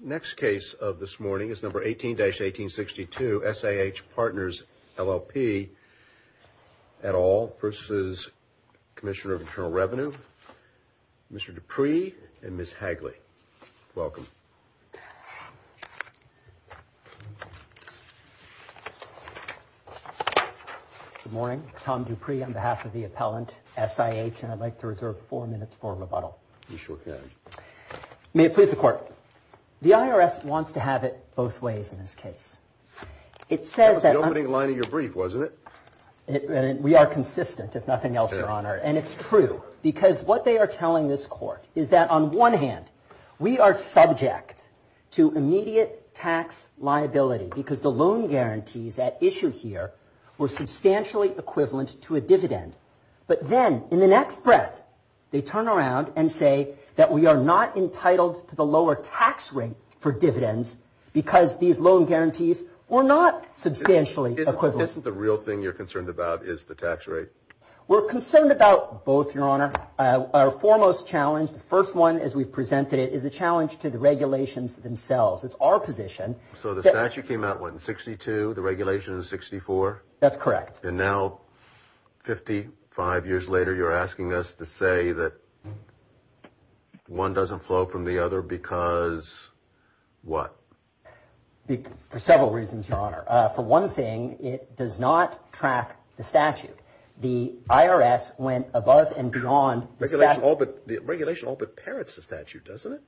Next case of this morning is number 18-1862, SIH Partners LL P et al. v. Commissioner of Internal Revenue, Mr. Dupree and Ms. Hagley. Welcome. Good morning. Tom Dupree on behalf of the appellant SIH and I'd like to reserve four minutes for rebuttal. You sure can. May it please the court. The IRS wants to have it both ways in this case. It says that... That was the opening line of your brief, wasn't it? We are consistent, if nothing else, your honor. And it's true because what they are telling this court is that on one hand, we are subject to immediate tax liability because the loan guarantees at issue here were substantially equivalent to a dividend. But then in the next breath, they turn around and say that we are not entitled to the lower tax rate for dividends because these loan guarantees were not substantially equivalent. Isn't the real thing you're concerned about is the tax rate? We're concerned about both, your honor. Our foremost challenge, the first one as we've presented it, is a challenge to the regulations themselves. It's our position. So the statute came out, what, in 62? The regulation is 64? That's correct. And now, 55 years later, you're asking us to say that one doesn't flow from the other because what? For several reasons, your honor. For one thing, it does not track the statute. The IRS went above and beyond... The regulation all but parrots the statute, doesn't it?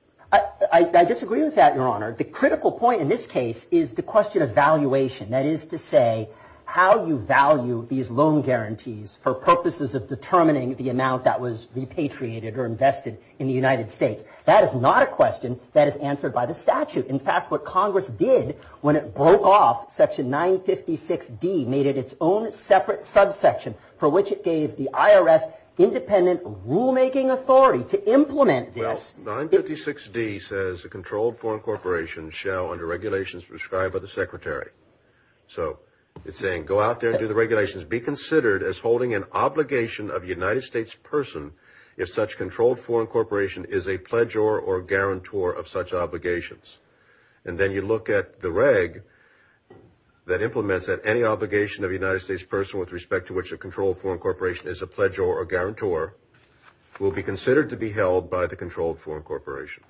I disagree with that, your honor. The critical point in this case is the question of valuation. That is to say, how you value these loan guarantees for purposes of determining the amount that was repatriated or invested in the United States. That is not a question that is answered by the statute. In fact, what Congress did when it broke off, Section 956D made it its own separate subsection for which it gave the IRS independent rulemaking authority to implement this. Well, 956D says a controlled foreign corporation shall, under regulations prescribed by the Secretary. So it's saying, go out there and do the regulations. Be considered as holding an obligation of a United States person if such controlled foreign corporation is a pledger or guarantor of such obligations. And then you look at the reg that implements that any obligation of a United States person with respect to which a controlled foreign corporation is a pledger or guarantor will be considered to be held by the controlled foreign corporation.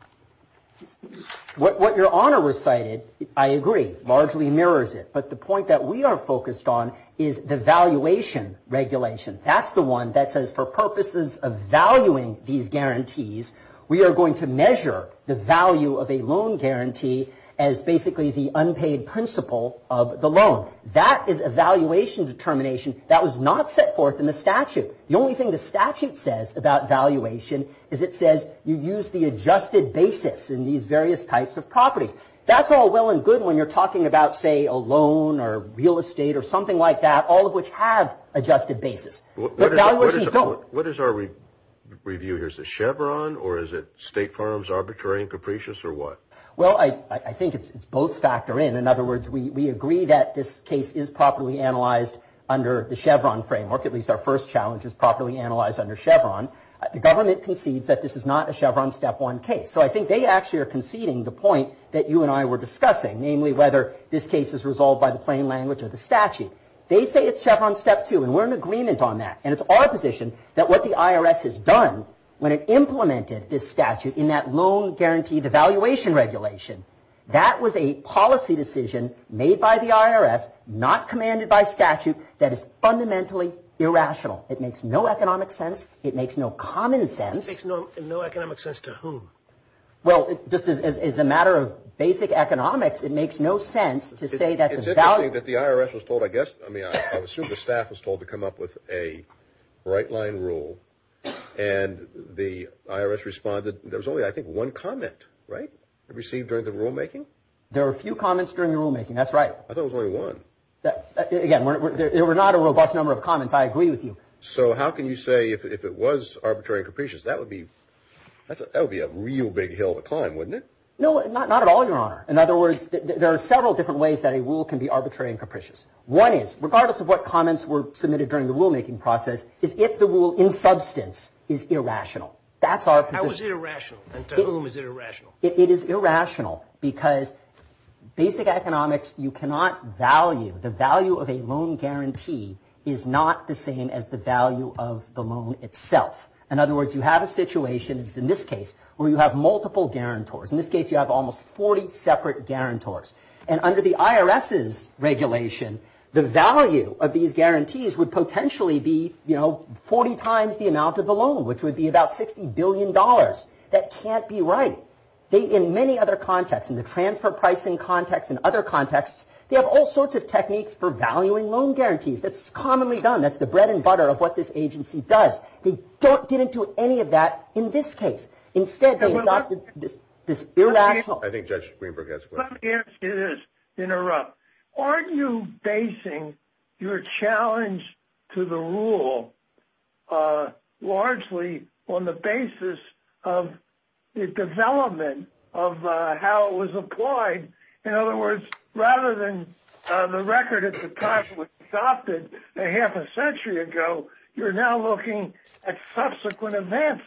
What your honor recited, I agree, largely mirrors it. But the point that we are focused on is the valuation regulation. That's the one that says for purposes of valuing these guarantees, we are going to measure the value of a loan guarantee as basically the unpaid principle of the loan. That is a valuation determination that was not set forth in the statute. The only thing the statute says about valuation is it says you use the adjusted basis in these various types of properties. That's all well and good when you're talking about, say, a loan or real estate or something like that, all of which have adjusted basis. What is our review? Here's the Chevron or is it State Farms Arbitrary and Capricious or what? Well, I think it's both factor in. In other words, we agree that this case is properly analyzed under the Chevron framework. At least our first challenge is properly analyzed under Chevron. The government concedes that this is not a Chevron step one case. So I think they actually are conceding the point that you and I were discussing, namely whether this case is resolved by the plain language of the statute. They say it's Chevron step two and we're in agreement on that and it's our position that what the IRS has done when it implemented this statute in that loan guaranteed evaluation regulation, that was a policy decision made by the IRS not commanded by statute that is fundamentally irrational. It makes no economic sense. It makes no common sense. It makes no economic sense to whom? Well, just as a matter of basic economics, it makes no sense to say that the IRS was told, I guess, I mean, I assume the staff was told to come up with a right-line rule and the IRS responded. There's only I think one comment, right? Received during the rulemaking. There are a few comments during the rulemaking. That's right. I thought it was only one. Again, there were not a robust number of comments. I agree with you. So how can you say if it was Arbitrary and Capricious, that would be, that would be a real big hill to climb, wouldn't it? No, not at all, Your Honor. In other words, there are several different ways that a rule can be Arbitrary and Capricious. One is, regardless of what comments were submitted during the rulemaking process, is if the rule, in substance, is irrational. That's our position. How is it irrational and to whom is it irrational? It is irrational because basic economics, you cannot value the value of a loan guarantee is not the same as the value of the loan itself. In other words, you have a situation, as in this case, where you have multiple guarantors. In this case, you have almost 40 separate guarantors. And under the IRS's regulation, the value of these guarantees would potentially be, you know, 40 times the amount of the loan, which would be about 60 billion dollars. That can't be right. They, in many other contexts, in the transfer pricing context and other contexts, they have all sorts of techniques for valuing loan guarantees. That's commonly done. That's the bread and butter of what this agency does. They don't, didn't do any of that in this case. Instead, they adopted this irrational. I think Judge Greenberg has a question. Let me ask you this, interrupt. Aren't you basing your challenge to the rule largely on the basis of the development of how it was applied? In other words, rather than the record at the time it was adopted a half a century ago, you're now looking at subsequent events.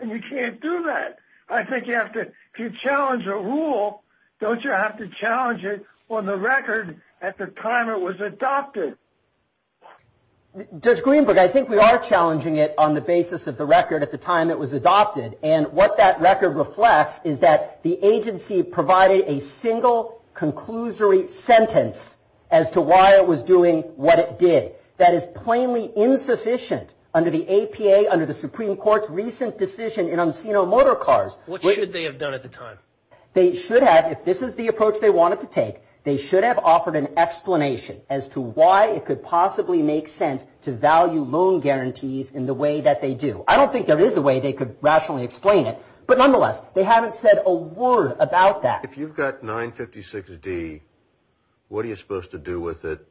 And you can't do that. I think you have to, if you challenge a rule, don't you have to challenge it on the record at the time it was adopted? Judge Greenberg, I think we are challenging it on the basis of the record at the time it was adopted. And what that record reflects is that the agency provided a single conclusory sentence as to why it was doing what it did. That is plainly insufficient under the APA, under the Supreme Court's recent decision in Onseno Motor Cars. What should they have done at the time? They should have, if this is the approach they wanted to take, they should have offered an explanation as to why it could possibly make sense to value loan guarantees in the way that they do. I don't think there is a way they could rationally explain it, but nonetheless, they haven't said a word about that. If you've got 956 D, what are you supposed to do with it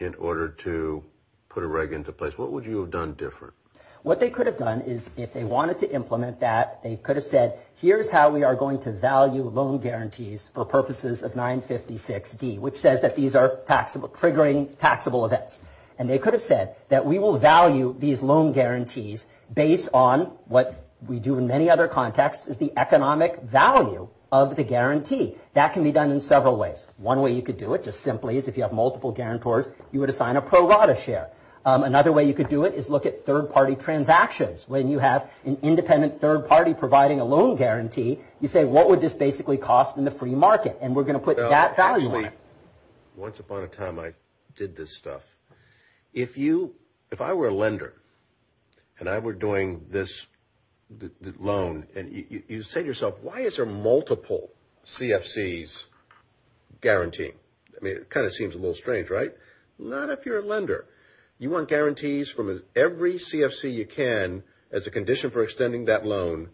in order to put a reg into place? What would you have done different? What they could have done is if they wanted to implement that, they could have said, here's how we are going to value loan guarantees for purposes of 956 D, which says that these are taxable, triggering taxable events. And they could have said that we will value these loan guarantees based on what we do in many other contexts is the economic value of the guarantee. That can be done in several ways. One way you could do it just simply is if you have multiple guarantors, you would assign a pro rata share. Another way you could do it is look at third party transactions when you have an independent third party providing a loan guarantee, you say, what would this basically cost in the free market? And we're going to put that value on it. Once upon a time, I did this stuff. If I were a lender and I were doing this loan and you say to yourself, why is there multiple CFCs guaranteeing? I mean, it kind of seems a little strange, right? Not if you're a lender. You want guarantees from every CFC you can as a condition for extending that loan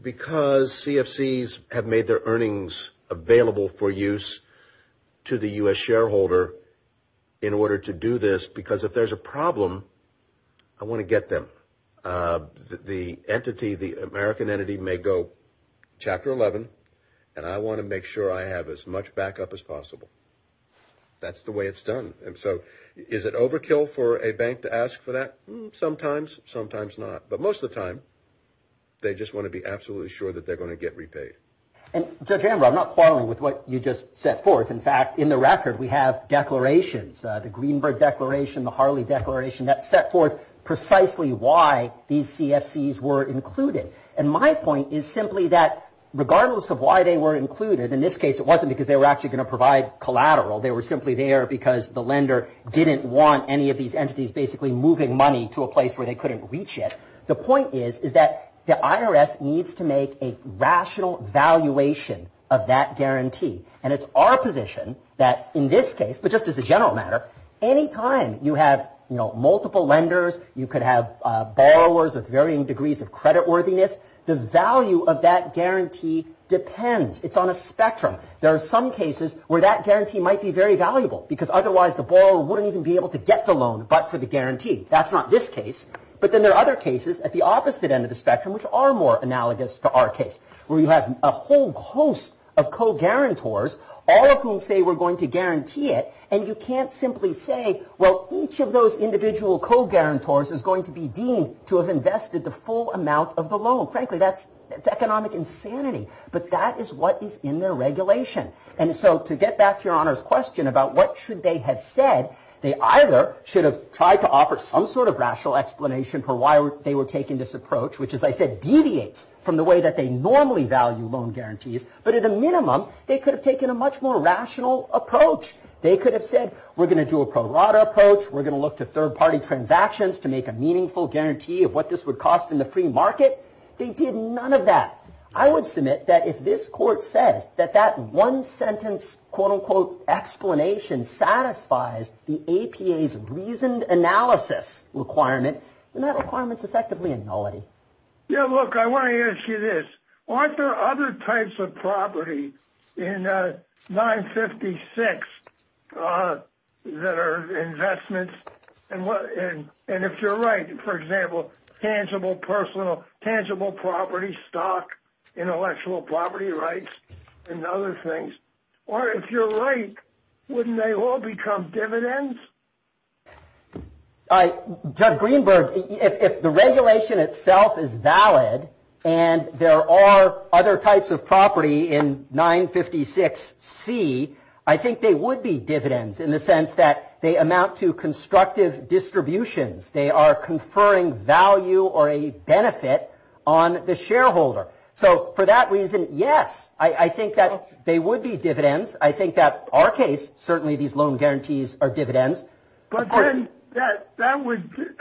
because CFCs have made their earnings available for use to the US shareholder in order to do this because if there's a problem, I want to get them the entity, the American entity may go chapter 11 and I want to make sure I have as much backup as possible. That's the way it's done. And so is it overkill for a bank to ask for that? Sometimes, sometimes not, but most of the time they just want to be absolutely sure that they're going to get repaid. And Judge Amber, I'm not quarreling with what you just set forth. In fact, in the record, we have declarations, the Greenberg Declaration, the Harley Declaration that set forth precisely why these CFCs were included. And my point is simply that regardless of why they were included in this case, it wasn't because they were actually going to provide collateral. They were simply there because the lender didn't want any of these entities basically moving money to a place where they couldn't reach it. The point is, is that the IRS needs to make a rational valuation of that guarantee. And it's our position that in this case, but just as a general matter, anytime you have, you know, multiple lenders, you could have borrowers of varying degrees of creditworthiness. The value of that guarantee depends. It's on a spectrum. There are some cases where that guarantee might be very valuable because otherwise the borrower wouldn't even be able to get the loan, but for the guarantee. That's not this case. But then there are other cases at the opposite end of the spectrum, which are more analogous to our case, where you have a whole host of co-guarantors, all of whom say we're going to guarantee it. And you can't simply say, well, each of those individual co-guarantors is going to be deemed to have invested the full amount of the loan. Frankly, that's economic insanity. But that is what is in their regulation. And so to get back to your Honor's question about what should they have said, they either should have tried to offer some sort of rational explanation for why they were taking this approach, which as I said, deviates from the way that they normally value loan guarantees. But at a minimum, they could have taken a much more rational approach. They could have said, we're going to do a pro rata approach. We're going to look to third-party transactions to make a meaningful guarantee of what this would cost in the free market. They did none of that. I would submit that if this court says that that one sentence quote-unquote explanation satisfies the APA's reasoned analysis requirement, then that requirement is effectively a nullity. Yeah, look, I want to ask you this. Aren't there other types of property in 956 that are investments? And if you're right, for example, tangible personal, tangible property, stock, intellectual property rights, and other things, or if you're right, wouldn't they all become dividends? Judd Greenberg, if the regulation itself is valid and there are other types of property in 956 C, I think they would be dividends in the sense that they amount to constructive distributions. They are conferring value or a benefit on the shareholder. So for that reason, yes, I think that they would be dividends. I think that our case, certainly these loan guarantees are dividends. But then that would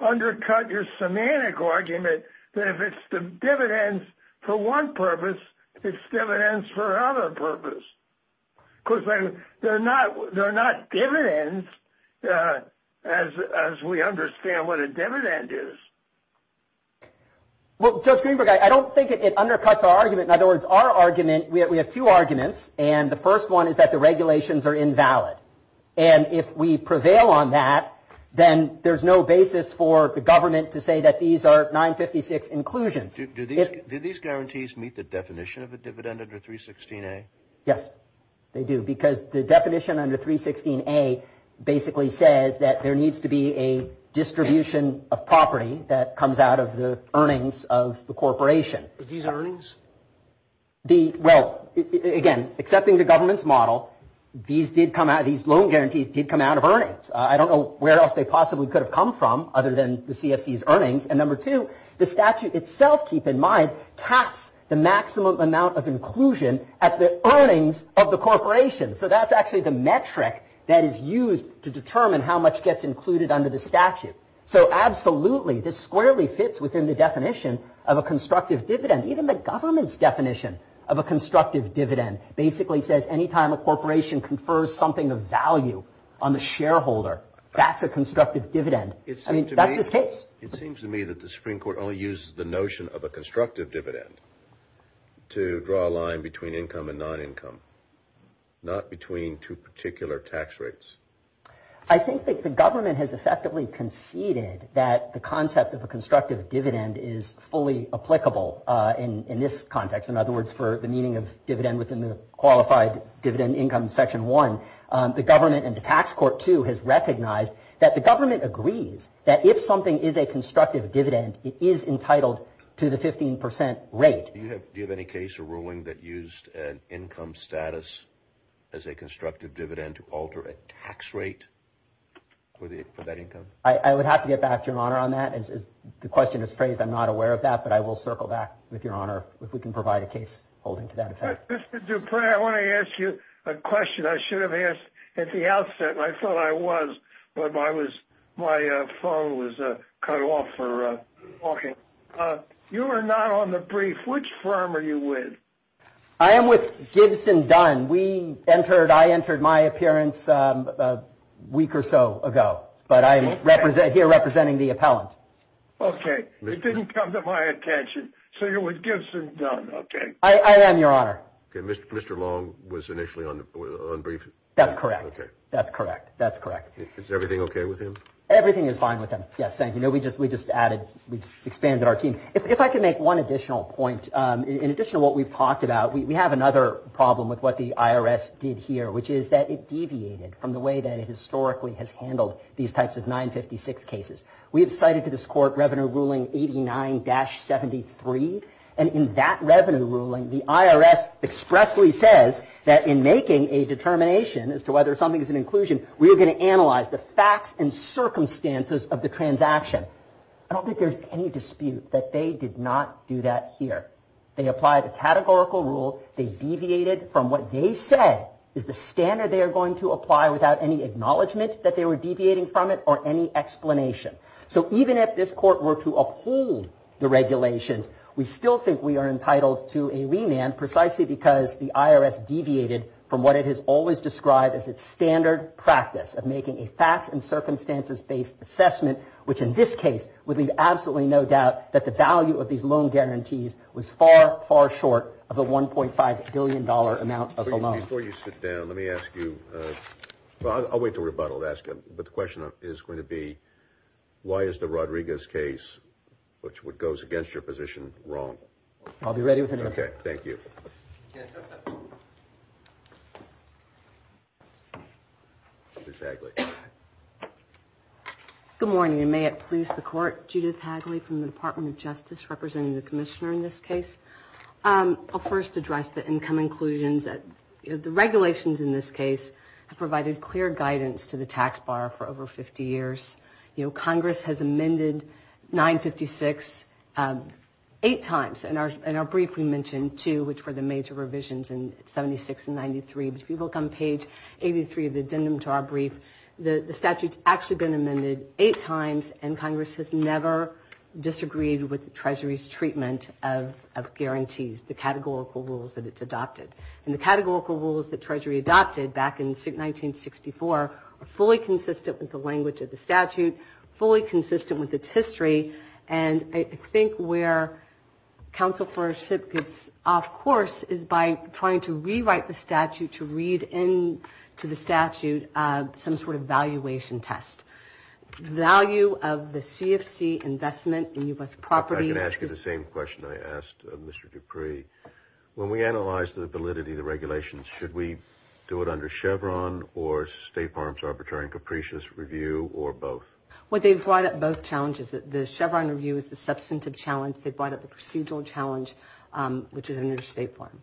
undercut your semantic argument that if it's the dividends for one purpose, it's dividends for another purpose. Because they're not dividends as we understand what a dividend is. Well, Judge Greenberg, I don't think it undercuts our argument. In other words, our argument, we have two arguments, and the first one is that the regulations are invalid. And if we prevail on that, then there's no basis for the government to say that these are 956 inclusions. Do these guarantees meet the definition of a dividend under 316 A? Yes, they do. Because the definition under 316 A basically says that there needs to be a distribution of property that comes out of the earnings of the corporation. These earnings? Well, again, accepting the government's model, these loan guarantees did come out of earnings. I don't know where else they possibly could have come from other than the CFC's earnings. And number two, the statute itself, keep in mind, caps the distribution at the earnings of the corporation. So that's actually the metric that is used to determine how much gets included under the statute. So absolutely, this squarely fits within the definition of a constructive dividend. Even the government's definition of a constructive dividend basically says anytime a corporation confers something of value on the shareholder, that's a constructive dividend. I mean, that's the case. It seems to me that the Supreme Court only uses the notion of a constructive dividend to draw a line between income and non-income, not between two particular tax rates. I think that the government has effectively conceded that the concept of a constructive dividend is fully applicable in this context. In other words, for the meaning of dividend within the qualified dividend income section one, the government and the tax court two has recognized that the government agrees that if something is a constructive dividend, it is entitled to the 15% rate. Do you have any case or ruling that used an income status as a constructive dividend to alter a tax rate for that income? I would have to get back to your Honor on that. As the question is phrased, I'm not aware of that, but I will circle back with your Honor if we can provide a case holding to that effect. Mr. Dupre, I want to ask you a question I should have asked at the outset. I thought I was, but my phone was cut off for talking. You are not on the brief. Which firm are you with? I am with Gibson Dunn. We entered, I entered my appearance a week or so ago, but I am here representing the appellant. Okay, it didn't come to my attention. So you're with Gibson Dunn, okay. I am, your Honor. Okay, Mr. Long was initially on brief. That's correct. Okay, that's correct. That's correct. Is everything okay with him? Everything is fine with him. Yes. Thank you. No, we just, we just added. We just expanded our team. If I could make one additional point, in addition to what we've talked about, we have another problem with what the IRS did here, which is that it deviated from the way that it historically has handled these types of 956 cases. We have cited to this court Revenue Ruling 89-73, and in that Revenue Ruling, the IRS expressly says that in making a determination as to whether something is an inclusion, we are going to analyze the facts and circumstances of the transaction. I don't think there's any dispute that they did not do that here. They applied a categorical rule. They deviated from what they said is the standard they are going to apply without any acknowledgement that they were deviating from it or any explanation. So even if this court were to uphold the regulations, we still think we are entitled to a remand precisely because the IRS deviated from what it has always described as its standard practice of making a facts and circumstances-based assessment, which in this case would leave absolutely no doubt that the value of these loan guarantees was far, far short of a $1.5 billion amount of the loan. Before you sit down, let me ask you, I'll wait to rebuttal to ask you, but the question is going to be, why is the Rodriguez case, which goes against your position, wrong? I'll be ready with an answer. Thank you. Good morning, and may it please the court, Judith Hagley from the Department of Justice, representing the commissioner in this case. I'll first address the income inclusions that the regulations in this case have provided clear guidance to the tax bar for over 50 years. You know, Congress has amended 956 eight times and our major revisions in 76 and 93, but if you look on page 83 of the addendum to our brief, the statute's actually been amended eight times and Congress has never disagreed with the Treasury's treatment of guarantees, the categorical rules that it's adopted, and the categorical rules that Treasury adopted back in 1964 are fully consistent with the language of the statute, fully consistent with its course is by trying to rewrite the statute to read into the statute some sort of valuation test. Value of the CFC investment in U.S. property. I can ask you the same question I asked Mr. Dupree. When we analyze the validity of the regulations, should we do it under Chevron or State Farms Arbitrary and Capricious Review or both? What they've brought up, both challenges, the Chevron review is the substantive challenge. They brought up the procedural challenge, which is under State Farm.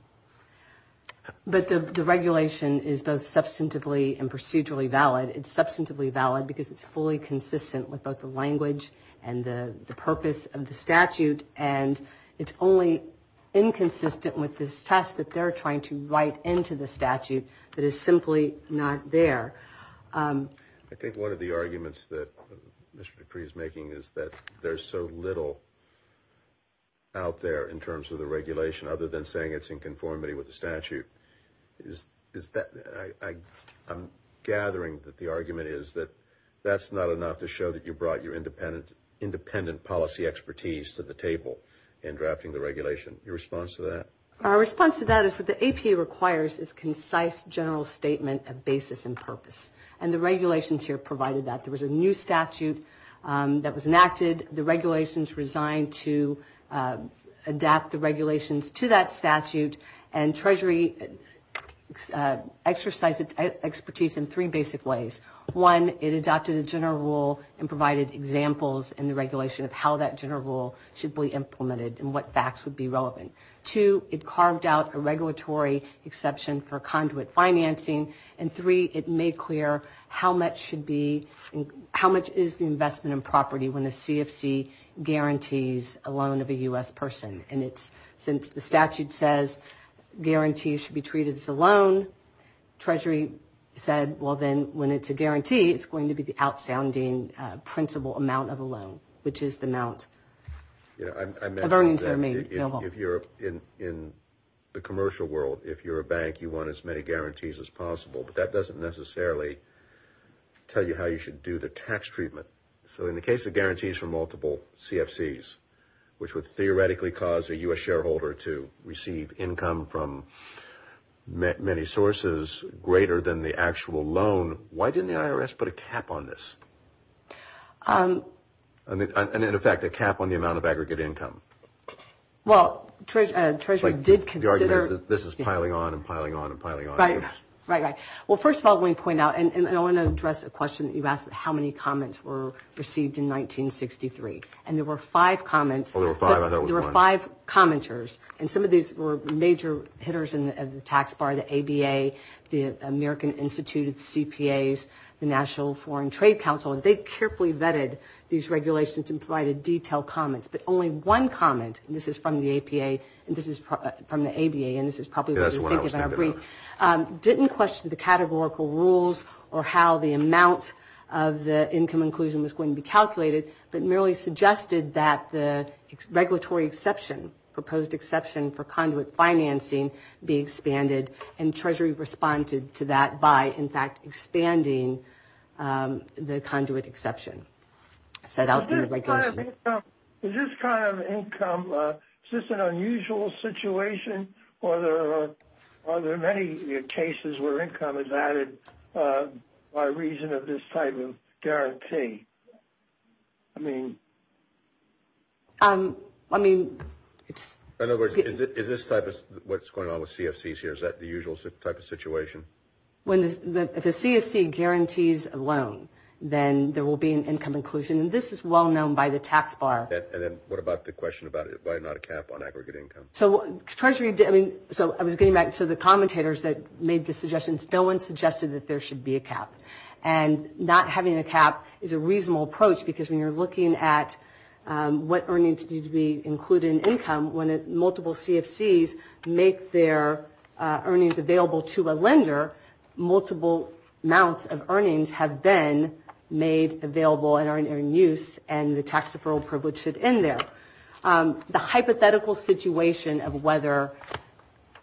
But the regulation is both substantively and procedurally valid. It's substantively valid because it's fully consistent with both the language and the purpose of the statute and it's only inconsistent with this test that they're trying to write into the statute that is simply not there. I think one of the arguments that Mr. Dupree is making is that there's so little out there in terms of the regulation other than saying it's in conformity with the statute. I'm gathering that the argument is that that's not enough to show that you brought your independent policy expertise to the table in drafting the regulation. Your response to that? Our response to that is what the APA requires is concise general statement of basis and purpose and the regulations here provided that. There was a new statute that was enacted. The regulations resigned to adapt the regulations to that statute and Treasury exercised its expertise in three basic ways. One, it adopted a general rule and provided examples in the regulation of how that general rule should be implemented and what facts would be relevant. Two, it carved out a regulatory exception for conduit financing and three, it made clear how much should be how much is the investment in property when a CFC guarantees a loan of a U.S. person and it's since the statute says guarantees should be treated as a loan, Treasury said, well, then when it's a guarantee, it's going to be the out-sounding principal amount of a loan, which is the amount of earnings that are made. If you're in the commercial world, if you're a bank, you want as many guarantees as possible, but that doesn't necessarily tell you how you should do the tax treatment. So in the case of guarantees from multiple CFCs, which would theoretically cause a U.S. shareholder to receive income from many sources greater than the actual loan, why didn't the IRS put a cap on this? And in effect, a cap on the amount of aggregate income. Well, Treasury did consider... This is piling on and piling on and piling on. Right, right, right. Well, first of all, let me point out, and I want to address a question that you've asked, how many comments were received in 1963? And there were five comments. Oh, there were five? I thought it was one. There were five commenters. And some of these were major hitters in the tax bar, the ABA, the American Institute of CPAs, the National Foreign Trade Council, and they carefully vetted these regulations and provided detailed comments. But only one comment, and this is from the APA, and this is from the ABA, and this is probably what you're thinking I agree, didn't question the categorical rules or how the amount of the income inclusion was going to be calculated, but merely suggested that the regulatory exception, proposed exception for conduit financing, be expanded, and Treasury responded to that by, in fact, expanding the conduit exception set out in the regulation. Is this kind of income, is this an unusual situation, or are there many cases where income is added by reason of this type of guarantee? I mean... I mean... In other words, is this type of what's going on with CFCs here, is that the usual type of situation? When the CFC guarantees a loan, then there will be an income inclusion, and this is well known by the tax bar. And then what about the question about it, why not a cap on aggregate income? So Treasury, I mean, so I was getting back to the commentators that made the suggestions, no one suggested that there should be a cap, and not having a cap is a reasonable approach because when you're looking at what earnings need to be included in income, when multiple CFCs make their earnings available to a lender, multiple amounts of earnings have been made available and are in use, and the tax deferral privilege should end there. The hypothetical situation of whether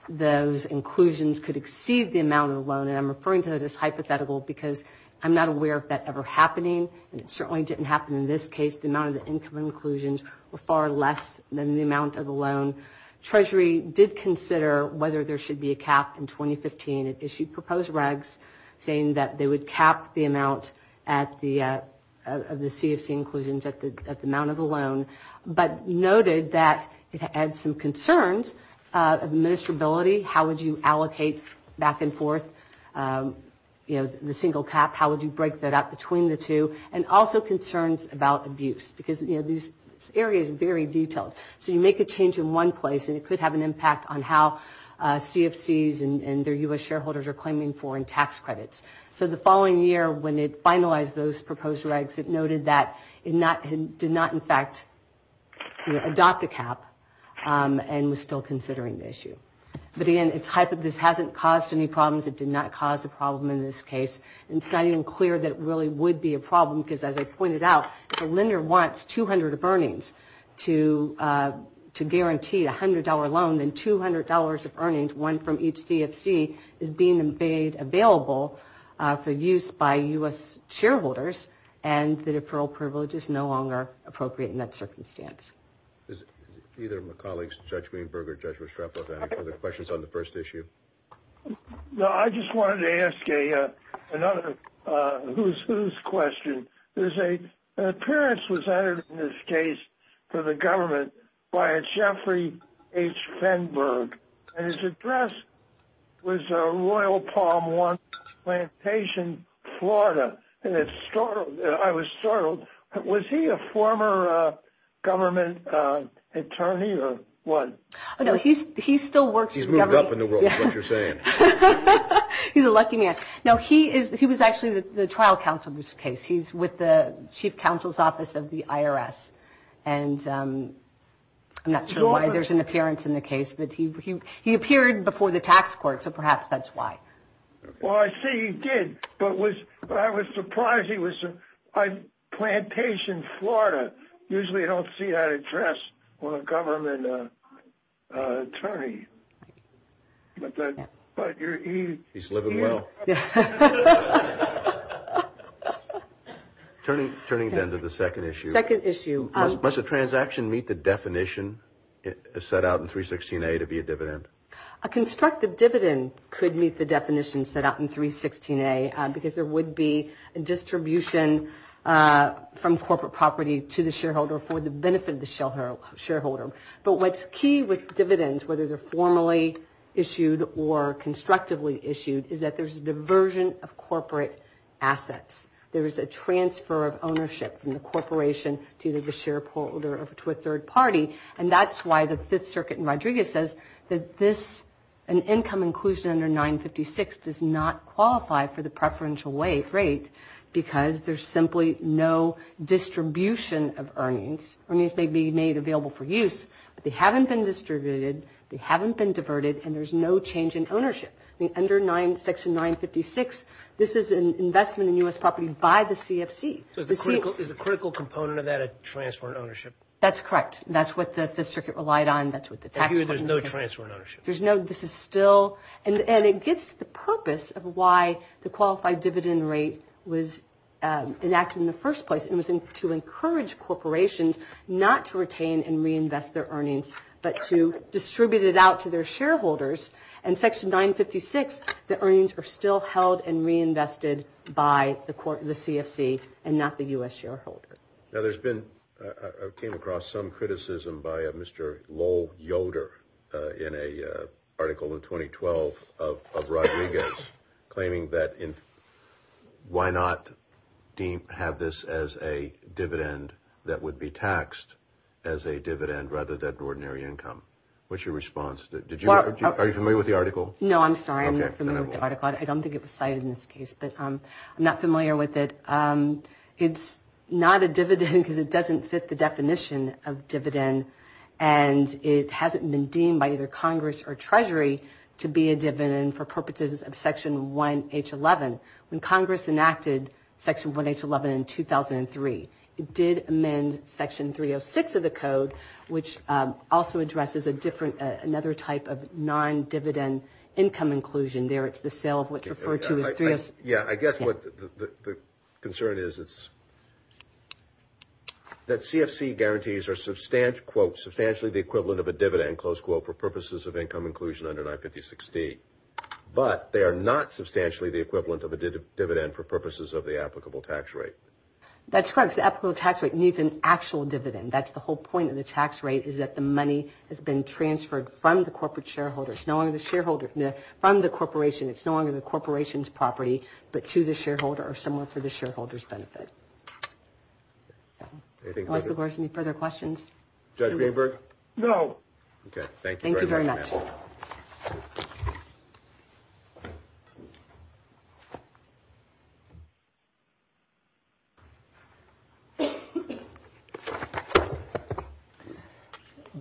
those inclusions could exceed the amount of the loan, and I'm referring to this hypothetical because I'm not aware of that ever happening, and it certainly didn't happen in this case. The amount of the income inclusions were far less than the amount of the loan. Treasury did consider whether there should be a cap in 2015. It issued proposed regs saying that they would cap the amount of the CFC inclusions at the amount of the loan. But noted that it had some concerns, administrability, how would you allocate back and forth, you know, the single cap, how would you break that up between the two, and also concerns about abuse because, you know, this area is very detailed, so you make a change in one place and it could have an impact on how CFCs and their U.S. shareholders are claiming foreign tax credits. So the following year when it finalized those proposed regs, it noted that it did not, in fact, adopt a cap and was still considering the issue. But again, this hasn't caused any problems. It did not cause a problem in this case, and it's not even clear that it really would be a problem because as I pointed out, if a lender wants 200 of earnings to guarantee a $100 loan, then $200 of earnings, one from each CFC, is being made available for use by U.S. shareholders, and the deferral privilege is no longer appropriate in that circumstance. Is either of my colleagues, Judge Greenberg or Judge Restrepo, have any further questions on the first issue? No, I just wanted to ask another who's who's question. There's an appearance was added in this case for the government by Jeffrey H. Fenberg, and his address was Royal Palm One Plantation, Florida, and I was startled. Was he a former government attorney or what? No, he still works for the government. He's moved up in the world, is what you're saying. He's a lucky man. No, he was actually the trial counsel in this case. He's with the chief counsel's office of the IRS. And I'm not sure why there's an appearance in the case, but he appeared before the tax court. So perhaps that's why. Well, I see he did, but I was surprised. He was on Plantation, Florida. Usually I don't see that address on a government attorney. He's living well. Turning then to the second issue. Second issue. Must a transaction meet the definition set out in 316a to be a dividend? A constructive dividend could meet the definition set out in 316a because there would be a distribution from corporate property to the shareholder for the benefit of the shareholder. But what's key with dividends, whether they're formally issued or constructively issued, is that there's a diversion of corporate assets. There is a transfer of ownership from the corporation to the shareholder or to a third party. And that's why the Fifth Circuit in Rodriguez says that this, an income inclusion under 956, does not qualify for the preferential rate because there's simply no distribution of earnings. Earnings may be made available for use, but they haven't been distributed, they haven't been diverted, and there's no change in ownership. Under section 956, this is an investment in U.S. property by the CFC. So is the critical component of that a transfer of ownership? That's correct. That's what the Fifth Circuit relied on. That's what the tax covenants are. So here there's no transfer of ownership? There's no, this is still, and it gives the purpose of why the qualified dividend rate was enacted in the first place. It was to encourage corporations not to retain and reinvest their earnings, but to distribute it out to their shareholders. And section 956, the earnings are still held and reinvested by the CFC and not the U.S. shareholder. Now there's been, I came across some criticism by Mr. Low Yoder in an article in 2012 of Rodriguez, claiming that why not have this as a dividend that would be taxed as a dividend rather than ordinary income? What's your response? Did you, are you familiar with the article? No, I'm sorry. I'm not familiar with the article. I don't think it was cited in this case, but I'm not familiar with it. It's not a dividend because it doesn't fit the definition of dividend and it hasn't been deemed by either Congress or Treasury to be a dividend for purposes of section 1H11. When Congress enacted section 1H11 in 2003, it did amend section 306 of the code, which also addresses a different, another type of non-dividend income inclusion there. It's the sale of what's referred to as 3S. Yeah, I guess what the concern is, it's that CFC guarantees are substantially, quote, substantially the equivalent of a dividend, close quote, for purposes of income inclusion under 956D, but they are not substantially the equivalent of a dividend for purposes of the applicable tax rate. That's correct. The applicable tax rate needs an actual dividend. That's the whole point of the tax rate is that the money has been transferred from the corporate shareholder. It's no longer the shareholder from the corporation. It's no longer the corporation's property, but to the shareholder or someone for the shareholder's benefit. Any further questions? Judge Greenberg? No. Okay. Thank you. Thank you very much.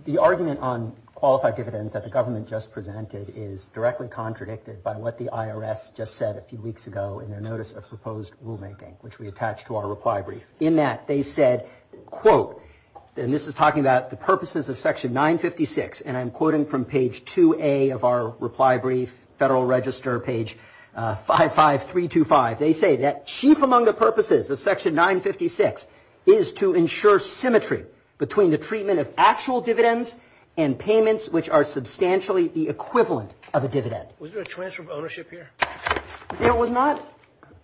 The argument on qualified dividends that the government just presented is directly contradicted by what the IRS just said a few weeks ago in their notice of proposed rulemaking, which we attach to our reply brief. In that, they said, quote, and this is talking about the purposes of section 956, and I'm quoting from page 2A of our reply brief, Federal Register, page 55325. They say that chief among the purposes of section 956 is to ensure symmetry between the treatment of actual dividends and payments which are substantially the equivalent of a dividend. Was there a transfer of ownership here? There was not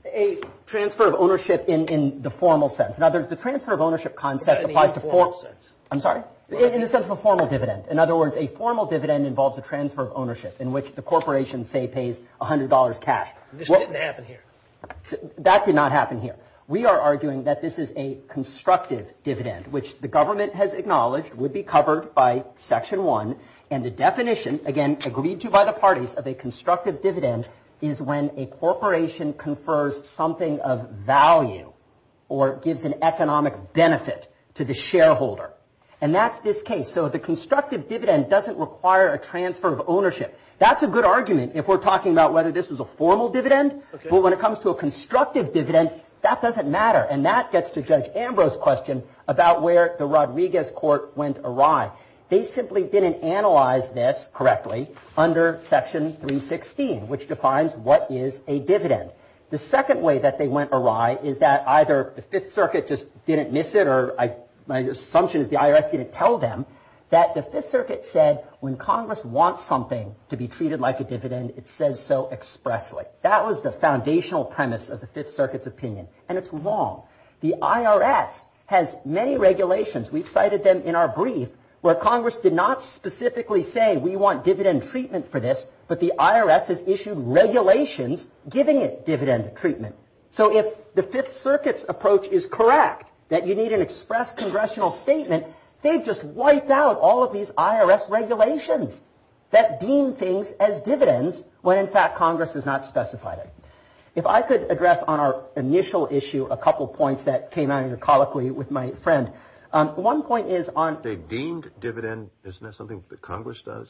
a transfer of ownership in the formal sense. Now, the transfer of ownership concept applies to formal sense. I'm sorry? In the sense of a formal dividend. In other words, a formal dividend involves a transfer of ownership in which the corporation, say, pays $100 cash. This didn't happen here. That did not happen here. We are arguing that this is a constructive dividend, which the government has acknowledged would be covered by section one, and the definition, again, agreed to by the parties of a constructive dividend is when a corporation confers something of value or gives an economic benefit to the corporation. So the constructive dividend doesn't require a transfer of ownership. That's a good argument. If we're talking about whether this was a formal dividend, but when it comes to a constructive dividend, that doesn't matter, and that gets to Judge Ambrose's question about where the Rodriguez court went awry. They simply didn't analyze this correctly under section 316, which defines what is a dividend. The second way that they went awry is that either the Fifth Circuit just didn't miss it, or my assumption is the IRS didn't tell them that the Fifth Circuit said when Congress wants something to be treated like a dividend, it says so expressly. That was the foundational premise of the Fifth Circuit's opinion, and it's wrong. The IRS has many regulations. We've cited them in our brief, where Congress did not specifically say we want dividend treatment for this, but the IRS has issued regulations giving it dividend treatment. So if the Fifth Circuit's approach is correct, that you need an express congressional statement, they've just wiped out all of these IRS regulations that deem things as dividends when in fact Congress has not specified it. If I could address on our initial issue a couple points that came out of your colloquy with my friend. One point is on... They deemed dividend, isn't that something that Congress does?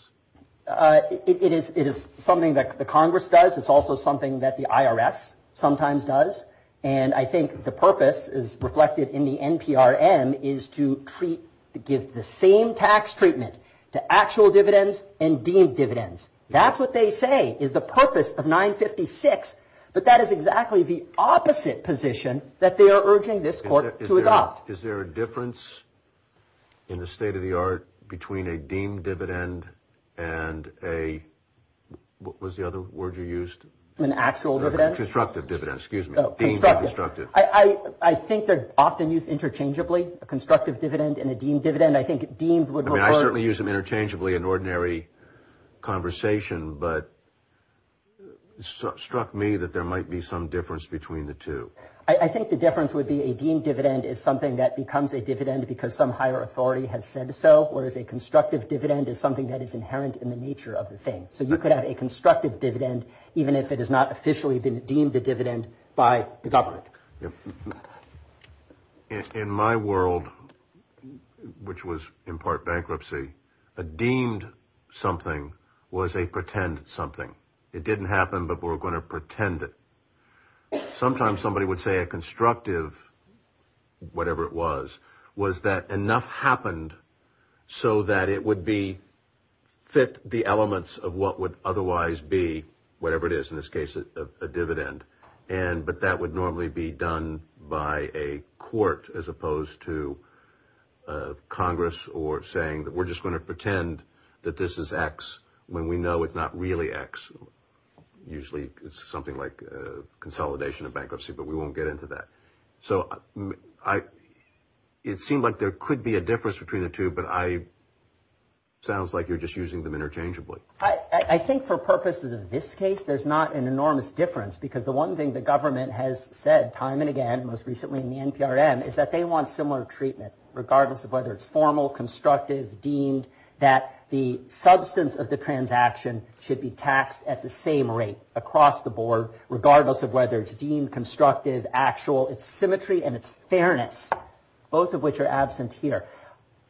It is something that the Congress does. It's also something that the IRS sometimes does, and I think the purpose is reflected in the NPRM, is to give the same tax treatment to actual dividends and deemed dividends. That's what they say is the purpose of 956, but that is exactly the opposite position that they are urging this court to adopt. Is there a difference in the state of the art between a deemed dividend and a... What was the other word you used? An actual dividend? Constructive dividend, excuse me. Deemed or constructive. I think they're often used interchangeably, a constructive dividend and a deemed dividend. I think deemed would... I mean, I certainly use them interchangeably in ordinary conversation, but it struck me that there might be some difference between the two. I think the difference would be a deemed dividend is something that becomes a dividend because some higher authority has said so, whereas a constructive dividend is something that is inherent in the nature of the thing. So you could have a constructive dividend, even if it has not officially been deemed a dividend by the government. In my world, which was in part bankruptcy, a deemed something was a pretend something. It didn't happen, but we're going to pretend it. Sometimes somebody would say a constructive, whatever it was, was that enough happened so that it would be fit the elements of what would otherwise be whatever it is, in this case, a dividend. And but that would normally be done by a court as opposed to Congress or saying that we're just going to pretend that this is X when we know it's not really X. Usually it's something like a consolidation of bankruptcy, but we won't get into that. So it seemed like there could be a difference between the two, but I sounds like you're just using them interchangeably. I think for purposes of this case, there's not an enormous difference because the one thing the government has said time and again, most recently in the NPRM, is that they want similar treatment regardless of whether it's formal, constructive, deemed, that the substance of the transaction should be taxed at the same rate across the board, regardless of whether it's deemed constructive, actual, it's symmetry, and it's fairness, both of which are absent here.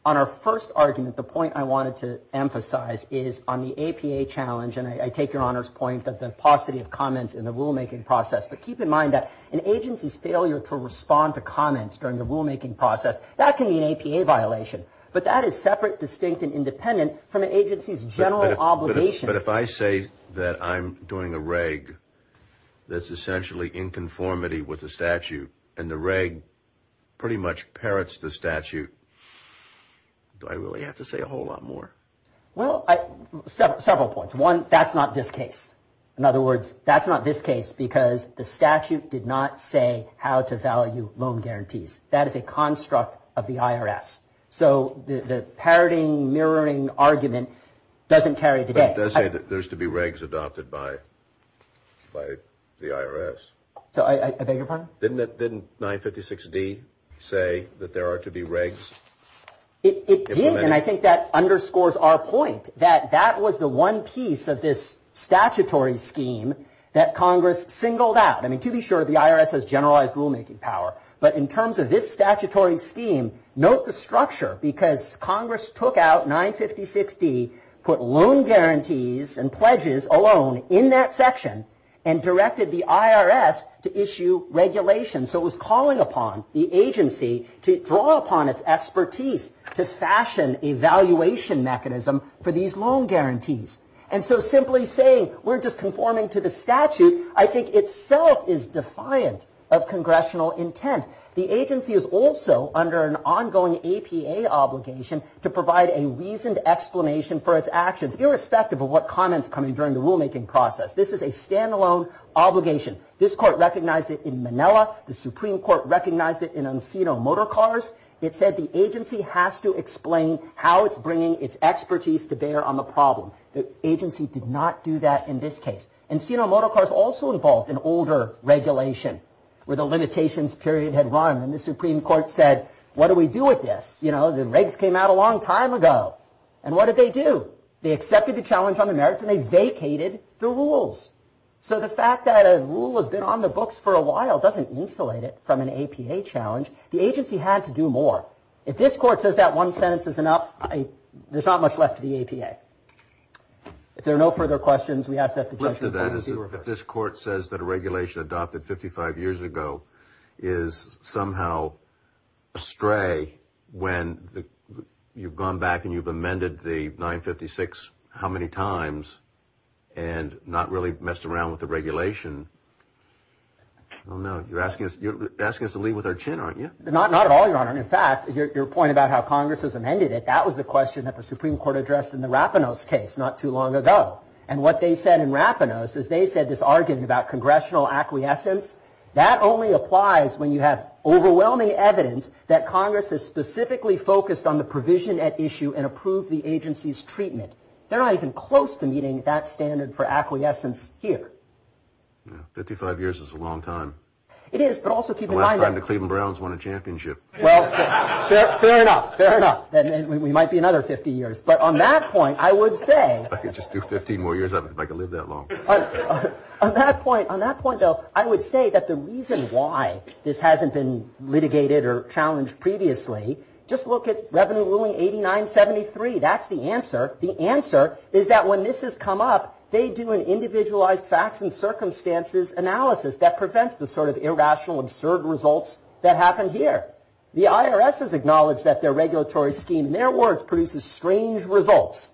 On our first argument, the point I wanted to emphasize is on the APA challenge, and I take your Honor's point of the paucity of comments in the rulemaking process, but keep in mind that an agency's failure to respond to comments during the rulemaking process, that can be an APA violation, but that is separate, distinct, and independent from an agency's general obligation. But if I say that I'm doing a reg that's essentially in conformity with the statute and the reg pretty much parrots the statute, do I really have to say a whole lot more? Well, several points. One, that's not this case. In other words, that's not this case because the statute did not say how to value loan guarantees. That is a construct of the IRS. So the parroting, mirroring argument doesn't carry today. It does say that there's to be regs adopted by the IRS. So I beg your pardon? Didn't 956D say that there are to be regs? It did, and I think that underscores our point that that was the one piece of this statutory scheme that Congress singled out. I mean, to be sure, the IRS has generalized rulemaking power, but in terms of this statutory scheme, note the structure because Congress took out 956D, put loan guarantees and pledges alone in that section, and directed the IRS to issue regulations. So it was calling upon the agency to draw upon its expertise to fashion a valuation mechanism for these loan guarantees. And so simply saying we're just conforming to the statute, I think itself is defiant of congressional intent. The agency is also under an ongoing APA obligation to provide a reasoned explanation for its actions, irrespective of what comments come in during the rulemaking process. This is a standalone obligation. This court recognized it in Manila. The Supreme Court recognized it in Encino Motor Cars. It said the agency has to explain how it's bringing its expertise to bear on the problem. The agency did not do that in this case. Encino Motor Cars also involved an older regulation where the limitations period had run, and the Supreme Court said, what do we do with this? You know, the regs came out a long time ago. And what did they do? They accepted the challenge on the merits and they vacated the rules. So the fact that a rule has been on the books for a while doesn't insulate it from an APA challenge. The agency had to do more. If this court says that one sentence is enough, there's not much left to the APA. If there are no further questions, we ask that the judge review it first. If this court says that a regulation adopted 55 years ago is somehow astray when you've gone back and you've amended the 956 how many times and not really messed around with the regulation. Oh, no, you're asking us to leave with our chin, aren't you? Not at all, Your Honor. And in fact, your point about how Congress has amended it, that was the question that the Supreme Court addressed in the Rapinos case not too long ago. And what they said in Rapinos is they said this argument about congressional acquiescence. That only applies when you have overwhelming evidence that Congress is specifically focused on the provision at issue and approved the agency's treatment. They're not even close to meeting that standard for acquiescence here. 55 years is a long time. It is, but also keep in mind that the Cleveland Browns won a championship. Well, fair enough, fair enough. Then we might be another 50 years. But on that point, I would say I could just do 15 more years of it if I could live that long. On that point, on that point, though, I would say that the reason why this hasn't been litigated or challenged previously, just look at Revenue Ruling 8973. That's the answer. The answer is that when this has come up, they do an individualized facts and circumstances analysis that prevents the sort of The IRS has acknowledged that their regulatory scheme, in their words, produces strange results,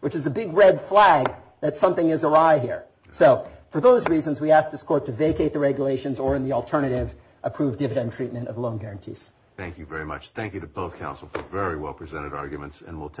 which is a big red flag that something is awry here. So for those reasons, we ask this court to vacate the regulations or in the alternative approved dividend treatment of loan guarantees. Thank you very much. Thank you to both counsel for very well presented arguments and we'll.